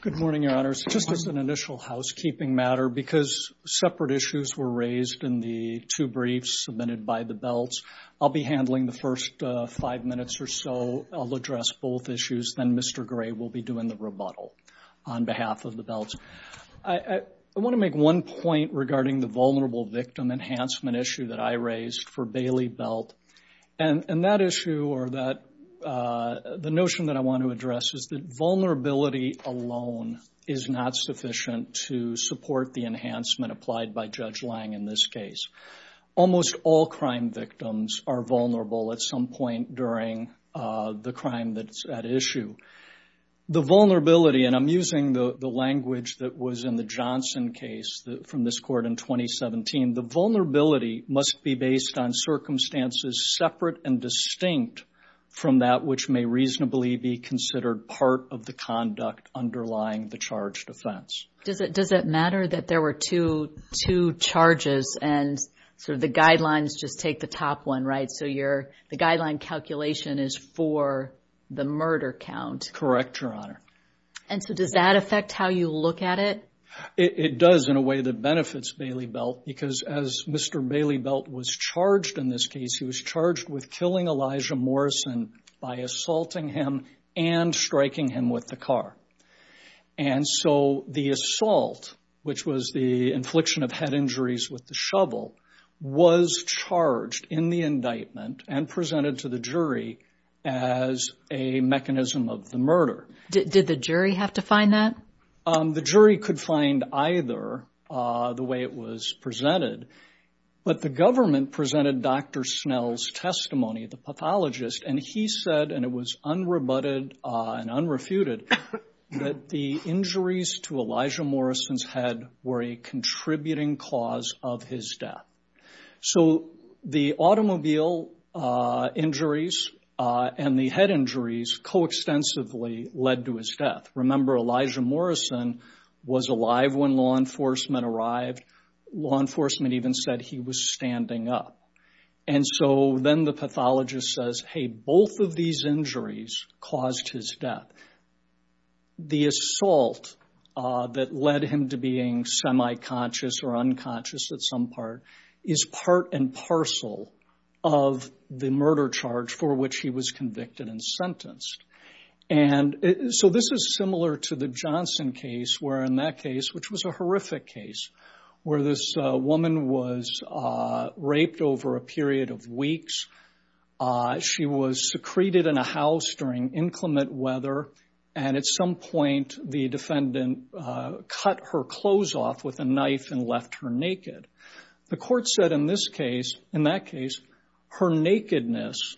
Good morning, Your Honors. Just as an initial housekeeping matter, because separate issues were raised in the two briefs submitted by the Belts, I'll be handling the first five minutes or so. I'll address both issues. Then Mr. Gray will be doing the rebuttal on behalf of the Belts. I want to make one point regarding the vulnerable victim enhancement issue that I raised for Bailey Belt. The notion that I want to address is that vulnerability alone is not sufficient to support the enhancement applied by Judge Lange in this case. Almost all crime victims are vulnerable at some point during the crime that's at issue. The vulnerability, and I'm using the language that was in the Johnson case from this court in 2017, the must be based on circumstances separate and distinct from that which may reasonably be considered part of the conduct underlying the charged offense. Does it matter that there were two charges and the guidelines just take the top one, right? The guideline calculation is for the murder count. Correct, Your Honor. Does that affect how you look at it? It does in a way that benefits Bailey Belt because as Mr. Bailey Belt was charged in this case, he was charged with killing Elijah Morrison by assaulting him and striking him with the car. The assault, which was the infliction of head injuries with the shovel, was charged in the indictment and presented to the jury as a mechanism of the murder. Did the jury have to find that? The jury could find either the way it was presented, but the government presented Dr. Snell's testimony, the pathologist, and he said, and it was unrebutted and unrefuted, that the injuries to Elijah Morrison's head were a contributing cause of his death. So the automobile injuries and the head injuries coextensively led to his death. Remember, Elijah Morrison was alive when law enforcement arrived. Law enforcement even said he was standing up. And so then the pathologist says, hey, both of these injuries caused his death. The assault that led him to being semi-conscious or unconscious at some part is part and parcel of the murder charge for which he was convicted and sentenced. And so this is similar to the Johnson case where, in that case, which was a horrific case, where this woman was raped over a period of weeks. She was secreted in a house during inclement weather, and at some point the defendant cut her clothes off with a knife and left her naked. The court said in this case, in that case, her nakedness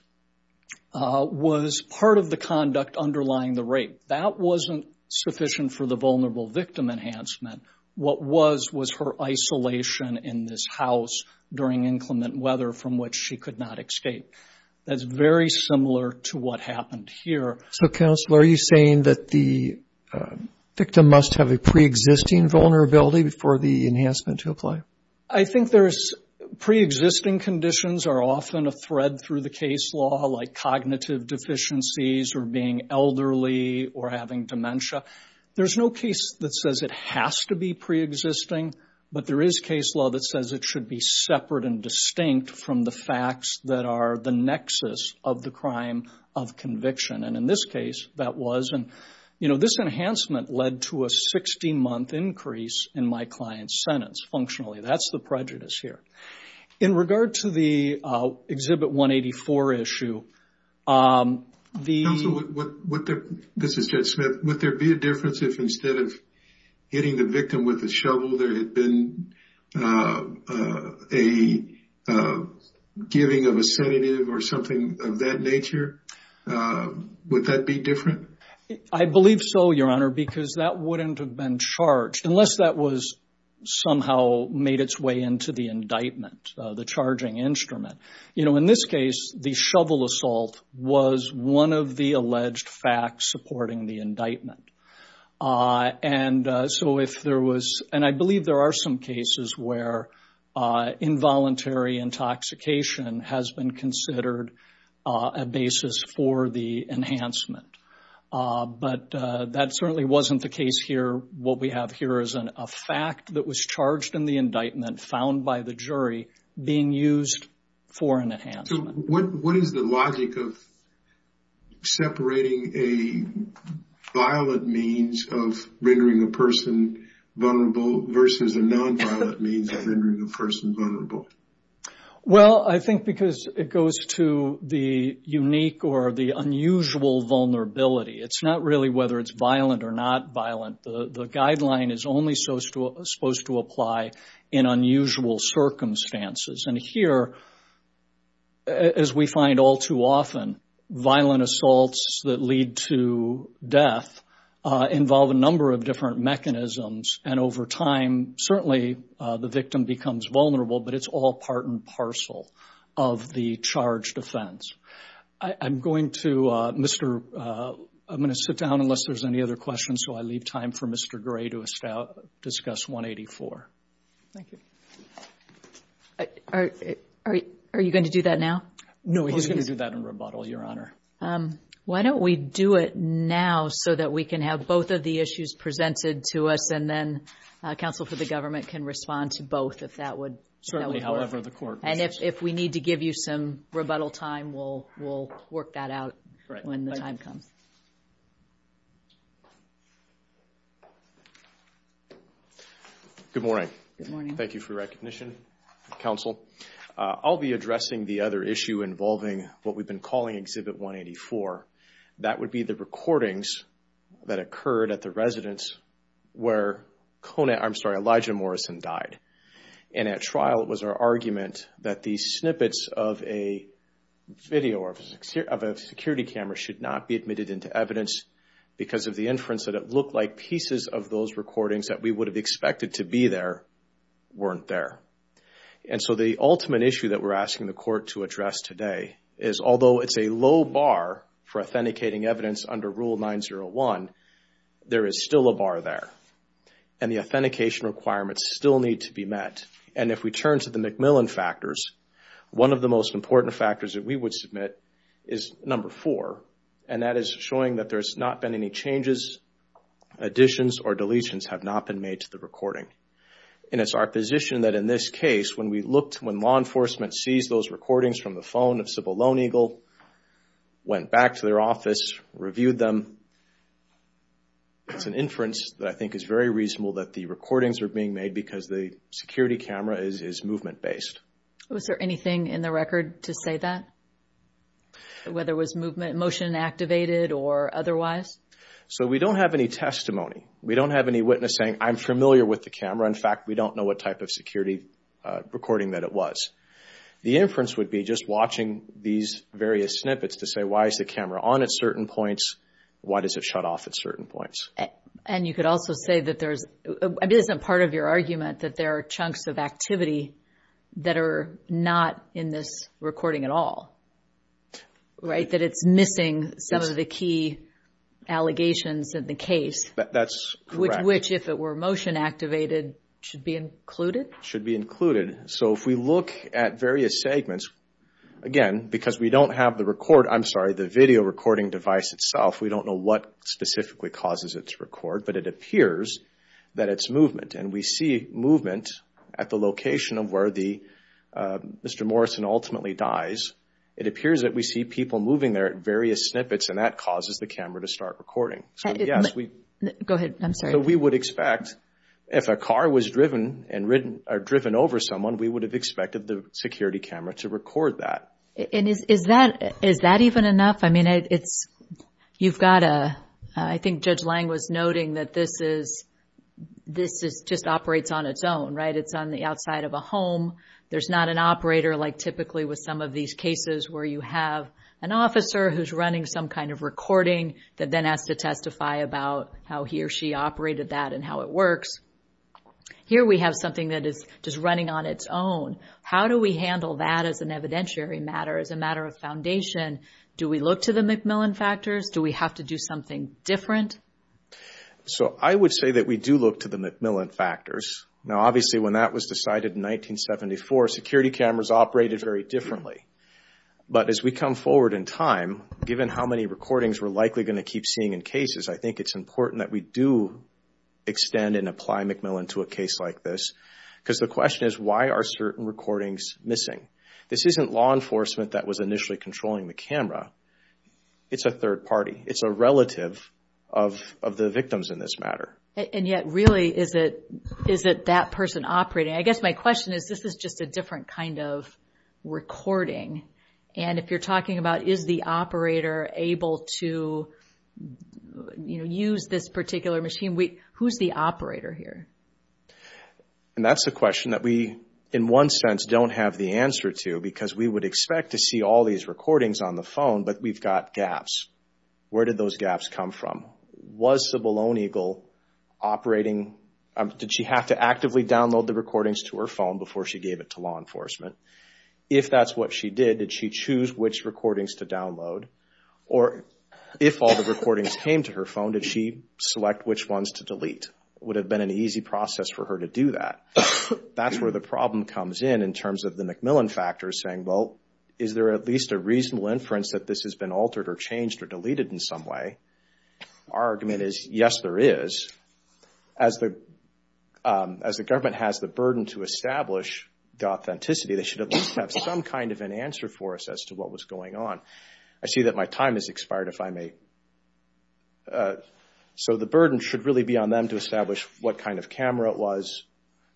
was part of the conduct underlying the rape. That wasn't sufficient for the vulnerable victim enhancement. What was was her isolation in this house during inclement weather from which she could not escape. That's very similar to what happened here. So, counsel, are you saying that the victim must have a pre-existing vulnerability for the enhancement to apply? I think there's pre-existing conditions are often a thread through the case law, like cognitive deficiencies or being elderly or having dementia. There's no case that says it has to be pre-existing, but there is case law that says it should be separate and distinct from the facts that are the nexus of the crime of conviction. And in this case, that was. And, you know, this enhancement led to a 60-month increase in my client's sentence, functionally, that's the prejudice here. In regard to the Exhibit 184 issue, the. This is Judge Smith. Would there be a difference if instead of hitting the victim with a shovel, there had been a giving of a sedative or something of that nature? Would that be different? I believe so, Your Honor, because that wouldn't have been charged unless that was somehow made its way into the indictment, the charging instrument. You know, in this case, the shovel assault was one of the alleged facts supporting the indictment. And so if there was, and I believe there are some cases where involuntary intoxication has been considered a basis for the enhancement. But that certainly wasn't the case here. What we have here is a fact that was charged in the indictment, found by the jury, being used for an enhancement. What is the logic of separating a violent means of rendering a person vulnerable versus a nonviolent means of rendering a person vulnerable? Well, I think because it goes to the unique or the unusual vulnerability. It's not really whether it's violent or not violent. The guideline is only supposed to apply in unusual circumstances. And here, as we find all too often, violent assaults that lead to death involve a number of different mechanisms. And over time, certainly the victim becomes vulnerable, but it's all part and parcel of the charged offense. I'm going to sit down unless there's any other questions. So I leave time for Mr. Gray to discuss 184. Thank you. Are you going to do that now? No, he's going to do that in rebuttal, Your Honor. Why don't we do it now so that we can have both of the issues presented to us and then counsel for the government can respond to both if that would work. Certainly, however the court wishes. If we need to give you some rebuttal time, we'll work that out when the time comes. Good morning. Thank you for your recognition, counsel. I'll be addressing the other issue involving what we've been calling Exhibit 184. That would be the recordings that occurred at the residence where Elijah Morrison died. And at trial, it was our argument that the snippets of a video of a security camera should not be admitted into evidence because of the inference that it looked like pieces of those recordings that we would have expected to be there weren't there. And so the ultimate issue that we're asking the court to address today is although it's a low bar for authenticating evidence under Rule 901, there is still a bar there. And the authentication requirements still need to be met. And if we turn to the McMillan factors, one of the most important factors that we would submit is number four, and that is showing that there's not been any changes, additions or deletions have not been made to the recording. And it's our position that in this case, when we looked, when law enforcement sees those recordings from the phone of Sybil Lone Eagle, went back to their office, reviewed them, and it's an inference that I think is very reasonable that the recordings are being made because the security camera is movement-based. – Was there anything in the record to say that? Whether it was motion activated or otherwise? – So we don't have any testimony. We don't have any witness saying, I'm familiar with the camera. In fact, we don't know what type of security recording that it was. The inference would be just watching these various snippets to say, why is the camera on at certain points? Why does it shut off at certain points? – And you could also say that there's, I mean, this isn't part of your argument, that there are chunks of activity that are not in this recording at all, right? That it's missing some of the key allegations in the case. – That's correct. – Which, if it were motion activated, should be included? – Should be included. So if we look at various segments, again, because we don't have the record, I'm sorry, the video recording device itself, we don't know what specifically causes its record, but it appears that it's movement. And we see movement at the location of where Mr. Morrison ultimately dies. It appears that we see people moving there at various snippets, and that causes the camera to start recording. – Go ahead, I'm sorry. – So we would expect, if a car was driven over someone, we would have expected the security camera to record that. – And is that even enough? I mean, it's, you've got a, I think Judge Lang was noting that this is, this just operates on its own, right? It's on the outside of a home. There's not an operator like typically with some of these cases where you have an officer who's running some kind of recording that then has to testify about how he or she operated that and how it works. Here we have something that is just running on its own. How do we handle that as an evidentiary matter, as a matter of foundation? Do we look to the Macmillan factors? Do we have to do something different? – So I would say that we do look to the Macmillan factors. Now, obviously, when that was decided in 1974, security cameras operated very differently. But as we come forward in time, given how many recordings we're likely going to keep seeing in cases, I think it's important that we do extend and apply Macmillan to a case like this. Because the question is, why are certain recordings missing? This isn't law enforcement that was initially controlling the camera. It's a third party. It's a relative of the victims in this matter. – And yet, really, is it that person operating? I guess my question is, this is just a different kind of recording. And if you're talking about, is the operator able to, you know, use this particular machine, who's the operator here? That's a question that we, in one sense, don't have the answer to. Because we would expect to see all these recordings on the phone, but we've got gaps. Where did those gaps come from? Was the bolognagle operating? Did she have to actively download the recordings to her phone before she gave it to law enforcement? If that's what she did, did she choose which recordings to download? Or if all the recordings came to her phone, did she select which ones to delete? Would have been an easy process for her to do that. That's where the problem comes in, in terms of the Macmillan factor, saying, well, is there at least a reasonable inference that this has been altered or changed or deleted in some way? Our argument is, yes, there is. As the government has the burden to establish the authenticity, they should at least have some kind of an answer for us as to what was going on. I see that my time has expired, if I may. So the burden should really be on them to establish what kind of camera it was,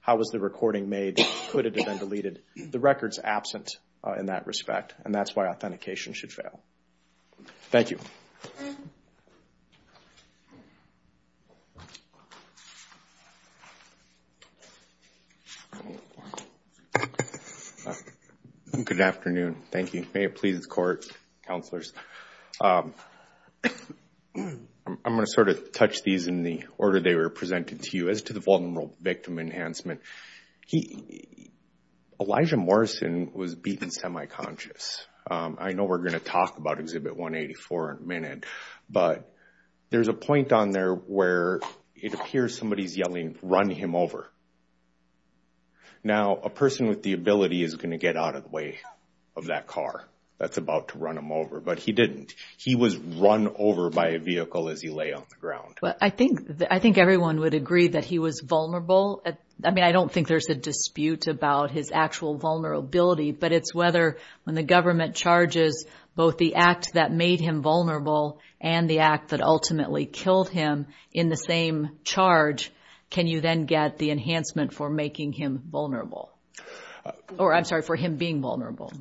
how was the recording made, could it have been deleted? The record's absent in that respect. And that's why authentication should fail. Thank you. Good afternoon. Thank you. May it please the court, counselors. I'm going to sort of touch these in the order they were presented to you. As to the vulnerable victim enhancement, Elijah Morrison was beaten semi-conscious. I know we're going to talk about Exhibit 184 in a minute, but there's a point on there where it appears somebody's yelling, run him over. Now, a person with the ability is going to get out of the way of that car that's about to run him over, but he didn't. He was run over by a vehicle as he lay on the ground. I think everyone would agree that he was vulnerable. I don't think there's a dispute about his actual vulnerability, but it's whether when the government charges both the act that made him vulnerable and the act that ultimately killed him in the same charge, can you then get the enhancement for making him vulnerable? Or I'm sorry, for him being vulnerable.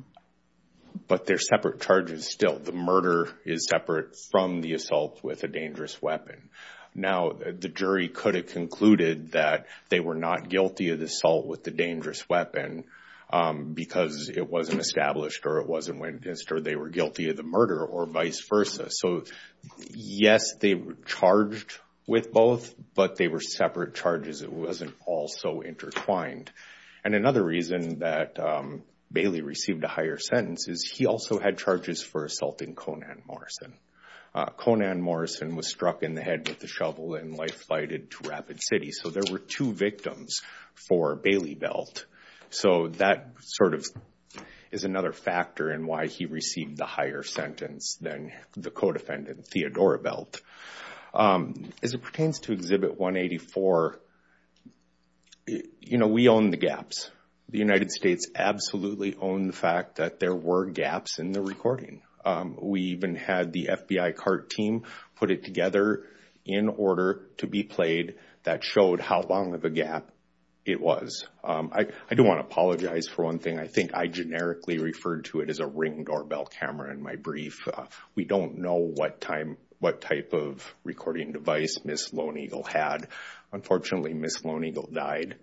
But they're separate charges still. The murder is separate from the assault with a dangerous weapon. Now, the jury could have concluded that they were not guilty of the assault with the dangerous weapon because it wasn't established or it wasn't witnessed, or they were guilty of the murder or vice versa. So yes, they were charged with both, but they were separate charges. It wasn't all so intertwined. And another reason that Bailey received a higher sentence is he also had charges for assaulting Conan Morrison. Conan Morrison was struck in the head with a shovel and life flighted to Rapid City. So there were two victims for Bailey Belt. So that sort of is another factor in why he received the higher sentence than the co-defendant, Theodora Belt. As it pertains to Exhibit 184, we own the gaps. The United States absolutely owned the fact that there were gaps in the recording. We even had the FBI cart team put it together in order to be played that showed how long of a gap it was. I do want to apologize for one thing. I think I generically referred to it as a ring doorbell camera in my brief. We don't know what type of recording device Ms. Lone Eagle had. Unfortunately, Ms. Lone Eagle died.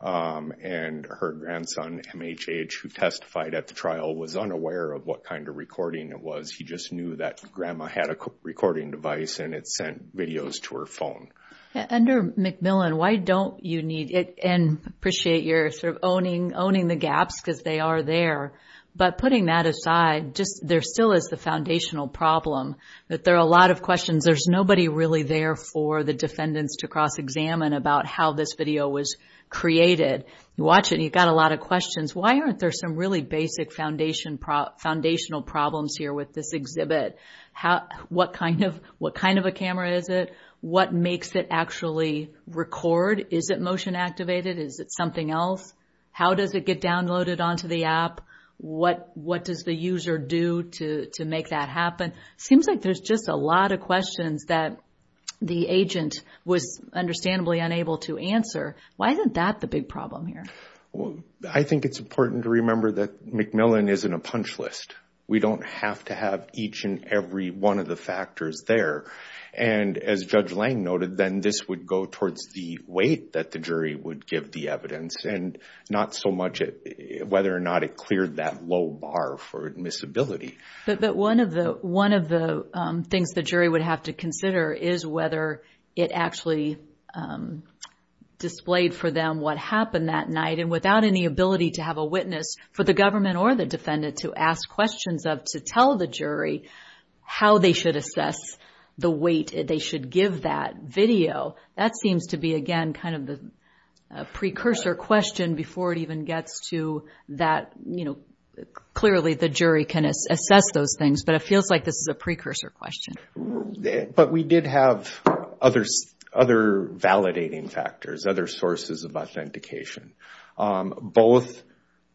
And her grandson, MHH, who testified at the trial was unaware of what kind of recording it was. He just knew that grandma had a recording device and it sent videos to her phone. Yeah, under McMillan, why don't you need it and appreciate you're sort of owning the gaps because they are there. But putting that aside, just there still is the foundational problem that there are a lot of questions. There's nobody really there for the defendants to cross-examine about how this video was created. You watch it and you've got a lot of questions. Why aren't there some really basic foundational problems here with this exhibit? What kind of a camera is it? What makes it actually record? Is it motion activated? Is it something else? How does it get downloaded onto the app? What does the user do to make that happen? Seems like there's just a lot of questions that the agent was understandably unable to answer. Why isn't that the big problem here? I think it's important to remember that McMillan isn't a punch list. We don't have to have each and every one of the factors there. And as Judge Lang noted, then this would go towards the weight that the jury would give the evidence and not so much whether or not it cleared that low bar for admissibility. But one of the things the jury would have to consider is whether it actually displayed for them what happened that night and without any ability to have a witness for the government or the defendant to ask questions of to tell the jury how they should assess the weight they should give that video. That seems to be, again, kind of the precursor question before it even gets to that, clearly the jury can assess those things, but it feels like this is a precursor question. But we did have other validating factors, other sources of authentication. Both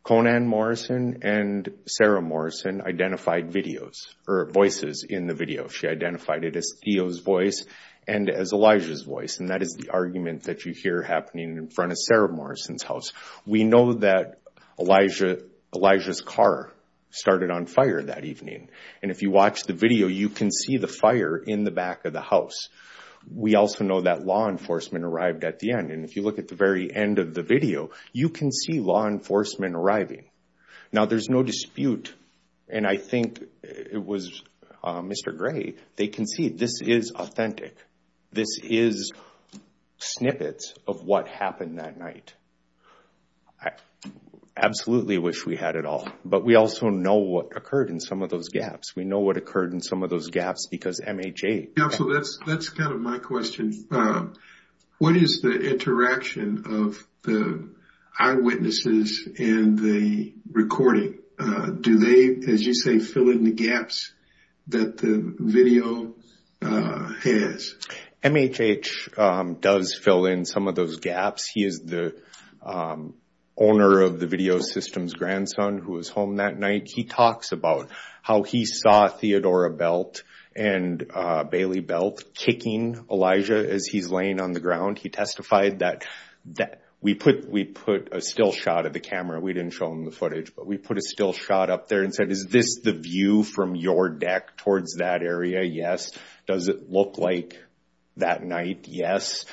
Conan Morrison and Sarah Morrison identified videos or voices in the video. She identified it as Theo's voice and as Elijah's voice. And that is the argument that you hear happening in front of Sarah Morrison's house. We know that Elijah's car started on fire that evening. And if you watch the video, you can see the fire in the back of the house. We also know that law enforcement arrived at the end. And if you look at the very end of the video, you can see law enforcement arriving. Now, there's no dispute. And I think it was Mr. Gray, they can see this is authentic. This is snippets of what happened that night. I absolutely wish we had it all. But we also know what occurred in some of those gaps. We know what occurred in some of those gaps, because MHH... Counsel, that's kind of my question. What is the interaction of the eyewitnesses and the recording? Do they, as you say, fill in the gaps that the video has? MHH does fill in some of those gaps. He is the owner of the video systems grandson who was home that night. He talks about how he saw Theodora Belt and Bailey Belt kicking Elijah as he's laying on the ground. He testified that we put a still shot of the camera. We didn't show him the footage, but we put a still shot up there and said, is this the view from your deck towards that area? Yes. Does it look like that night? Yes.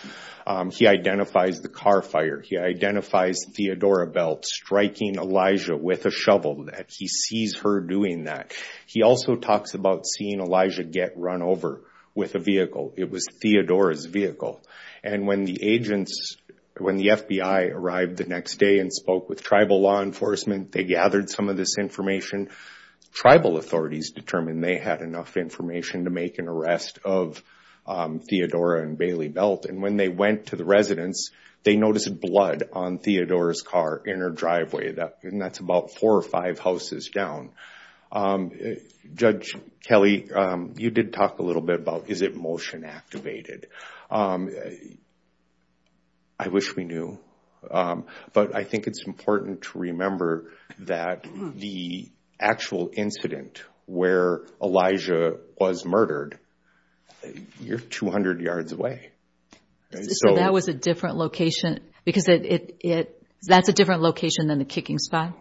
He identifies the car fire. He identifies Theodora Belt striking Elijah with a shovel that he sees her doing that. He also talks about seeing Elijah get run over with a vehicle. It was Theodora's vehicle. And when the agents, when the FBI arrived the next day and spoke with tribal law enforcement, they gathered some of this information. Tribal authorities determined they had enough information to make an arrest of Theodora and Bailey Belt. And when they went to the residence, they noticed blood on Theodora's car in her driveway. And that's about four or five houses down. Judge Kelly, you did talk a little bit about, is it motion activated? I wish we knew. But I think it's important to remember that the actual incident where Elijah was murdered, you're 200 yards away. So that was a different location because that's a different location than the kicking spot?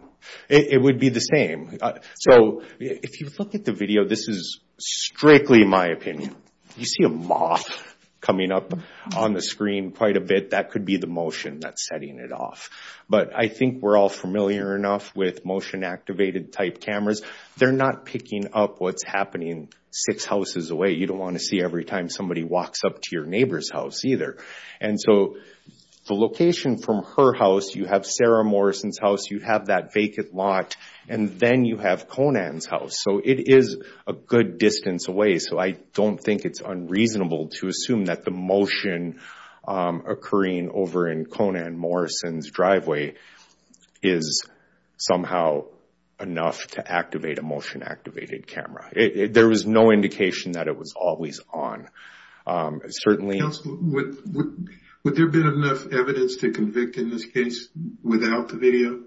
It would be the same. So if you look at the video, this is strictly my opinion. You see a moth coming up on the screen quite a bit. That could be the motion that's setting it off. But I think we're all familiar enough with motion activated type cameras. They're not picking up what's happening six houses away. You don't want to see every time somebody walks up to your neighbor's house either. And so the location from her house, you have Sarah Morrison's house, you have that vacant lot, and then you have Conan's house. So it is a good distance away. So I don't think it's unreasonable to assume that the motion occurring over in Conan Morrison's driveway is somehow enough to activate a motion activated camera. There was no indication that it was always on. Certainly... Would there have been enough evidence to convict in this case without the video?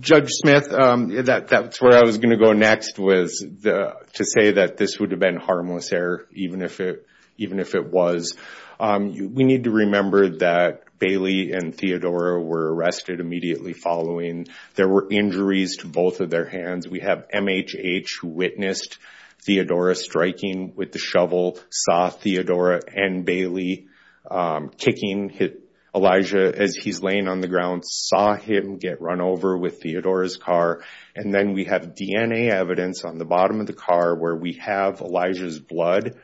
Judge Smith, that's where I was going to go next was to say that this would have been harmless error even if it was. We need to remember that Bailey and Theodora were arrested immediately following. There were injuries to both of their hands. We have MHH who witnessed Theodora striking with the shovel, saw Theodora and Bailey kicking Elijah as he's laying on the ground, saw him get run over with Theodora's car. And then we have DNA evidence on the bottom of the car where we have Elijah's blood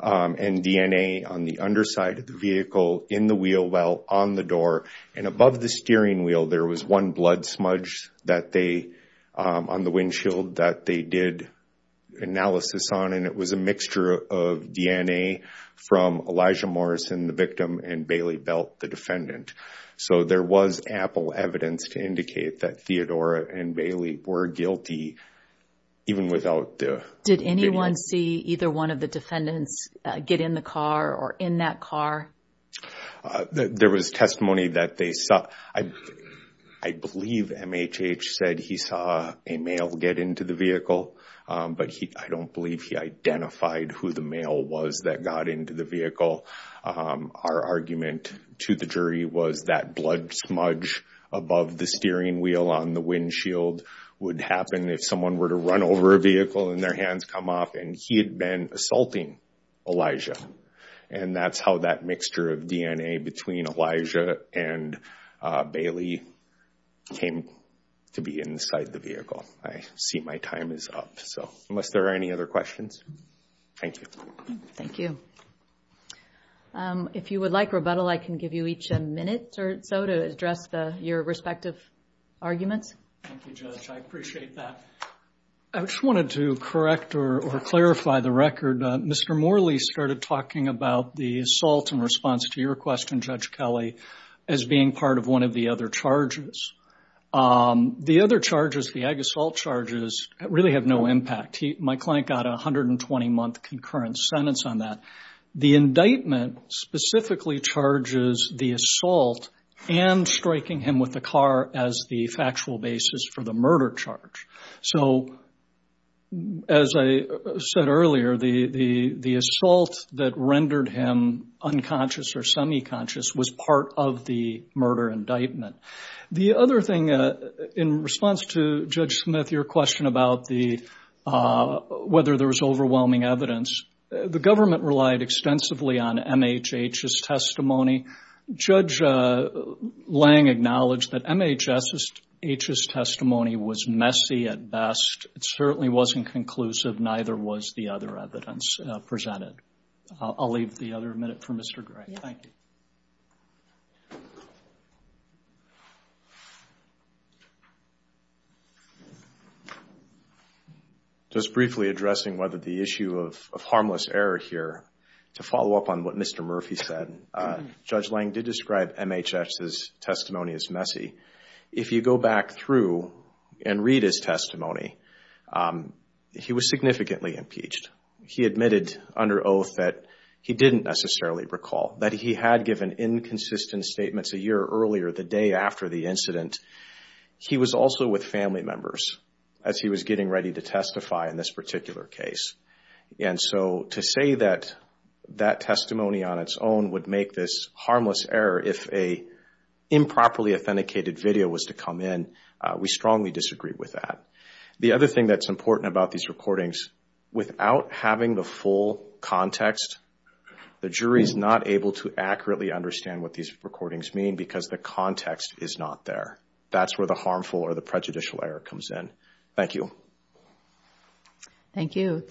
and DNA on the underside of the vehicle, in the wheel well, on the door. And above the steering wheel, there was one blood smudge on the windshield that they did analysis on. It was a mixture of DNA from Elijah Morrison, the victim, and Bailey Belt, the defendant. So there was ample evidence to indicate that Theodora and Bailey were guilty even without the video. Did anyone see either one of the defendants get in the car or in that car? There was testimony that they saw. I believe MHH said he saw a male get into the vehicle, but I don't believe he identified who the male was that got into the vehicle. Our argument to the jury was that blood smudge above the steering wheel on the windshield would happen if someone were to run over a vehicle and their hands come off. And he had been assaulting Elijah. And that's how that mixture of DNA between Elijah and Bailey came to be inside the vehicle. I see my time is up. So unless there are any other questions, thank you. Thank you. If you would like rebuttal, I can give you each a minute or so to address your respective arguments. Thank you, Judge. I appreciate that. I just wanted to correct or clarify the record. Mr. Morley started talking about the assault in response to your question, Judge Kelly, as being part of one of the other charges. The other charges, the ag assault charges, really have no impact. My client got a 120-month concurrent sentence on that. The indictment specifically charges the assault and striking him with the car as the factual basis for the murder charge. So as I said earlier, the assault that rendered him unconscious or semi-conscious was part of the murder indictment. The other thing, in response to Judge Smith, your question about whether there was overwhelming evidence, the government relied extensively on MHH's testimony. Judge Lange acknowledged that MHH's testimony was messy at best. It certainly wasn't conclusive. Neither was the other evidence presented. I'll leave the other minute for Mr. Gray. Thank you. Just briefly addressing whether the issue of harmless error here to follow up on what Mr. Murphy said. Judge Lange did describe MHH's testimony as messy. If you go back through and read his testimony, he was significantly impeached. He admitted under oath that he didn't necessarily recall, that he had given inconsistent statements a year earlier, the day after the incident. He was also with family members as he was getting ready to testify in this particular case. And so to say that that testimony on its own would make this harmless error if a improperly authenticated video was to come in, we strongly disagree with that. The other thing that's important about these recordings, without having the full context, the jury's not able to accurately understand what these recordings mean because the context is not there. That's where the harmful or the prejudicial error comes in. Thank you. Thank you.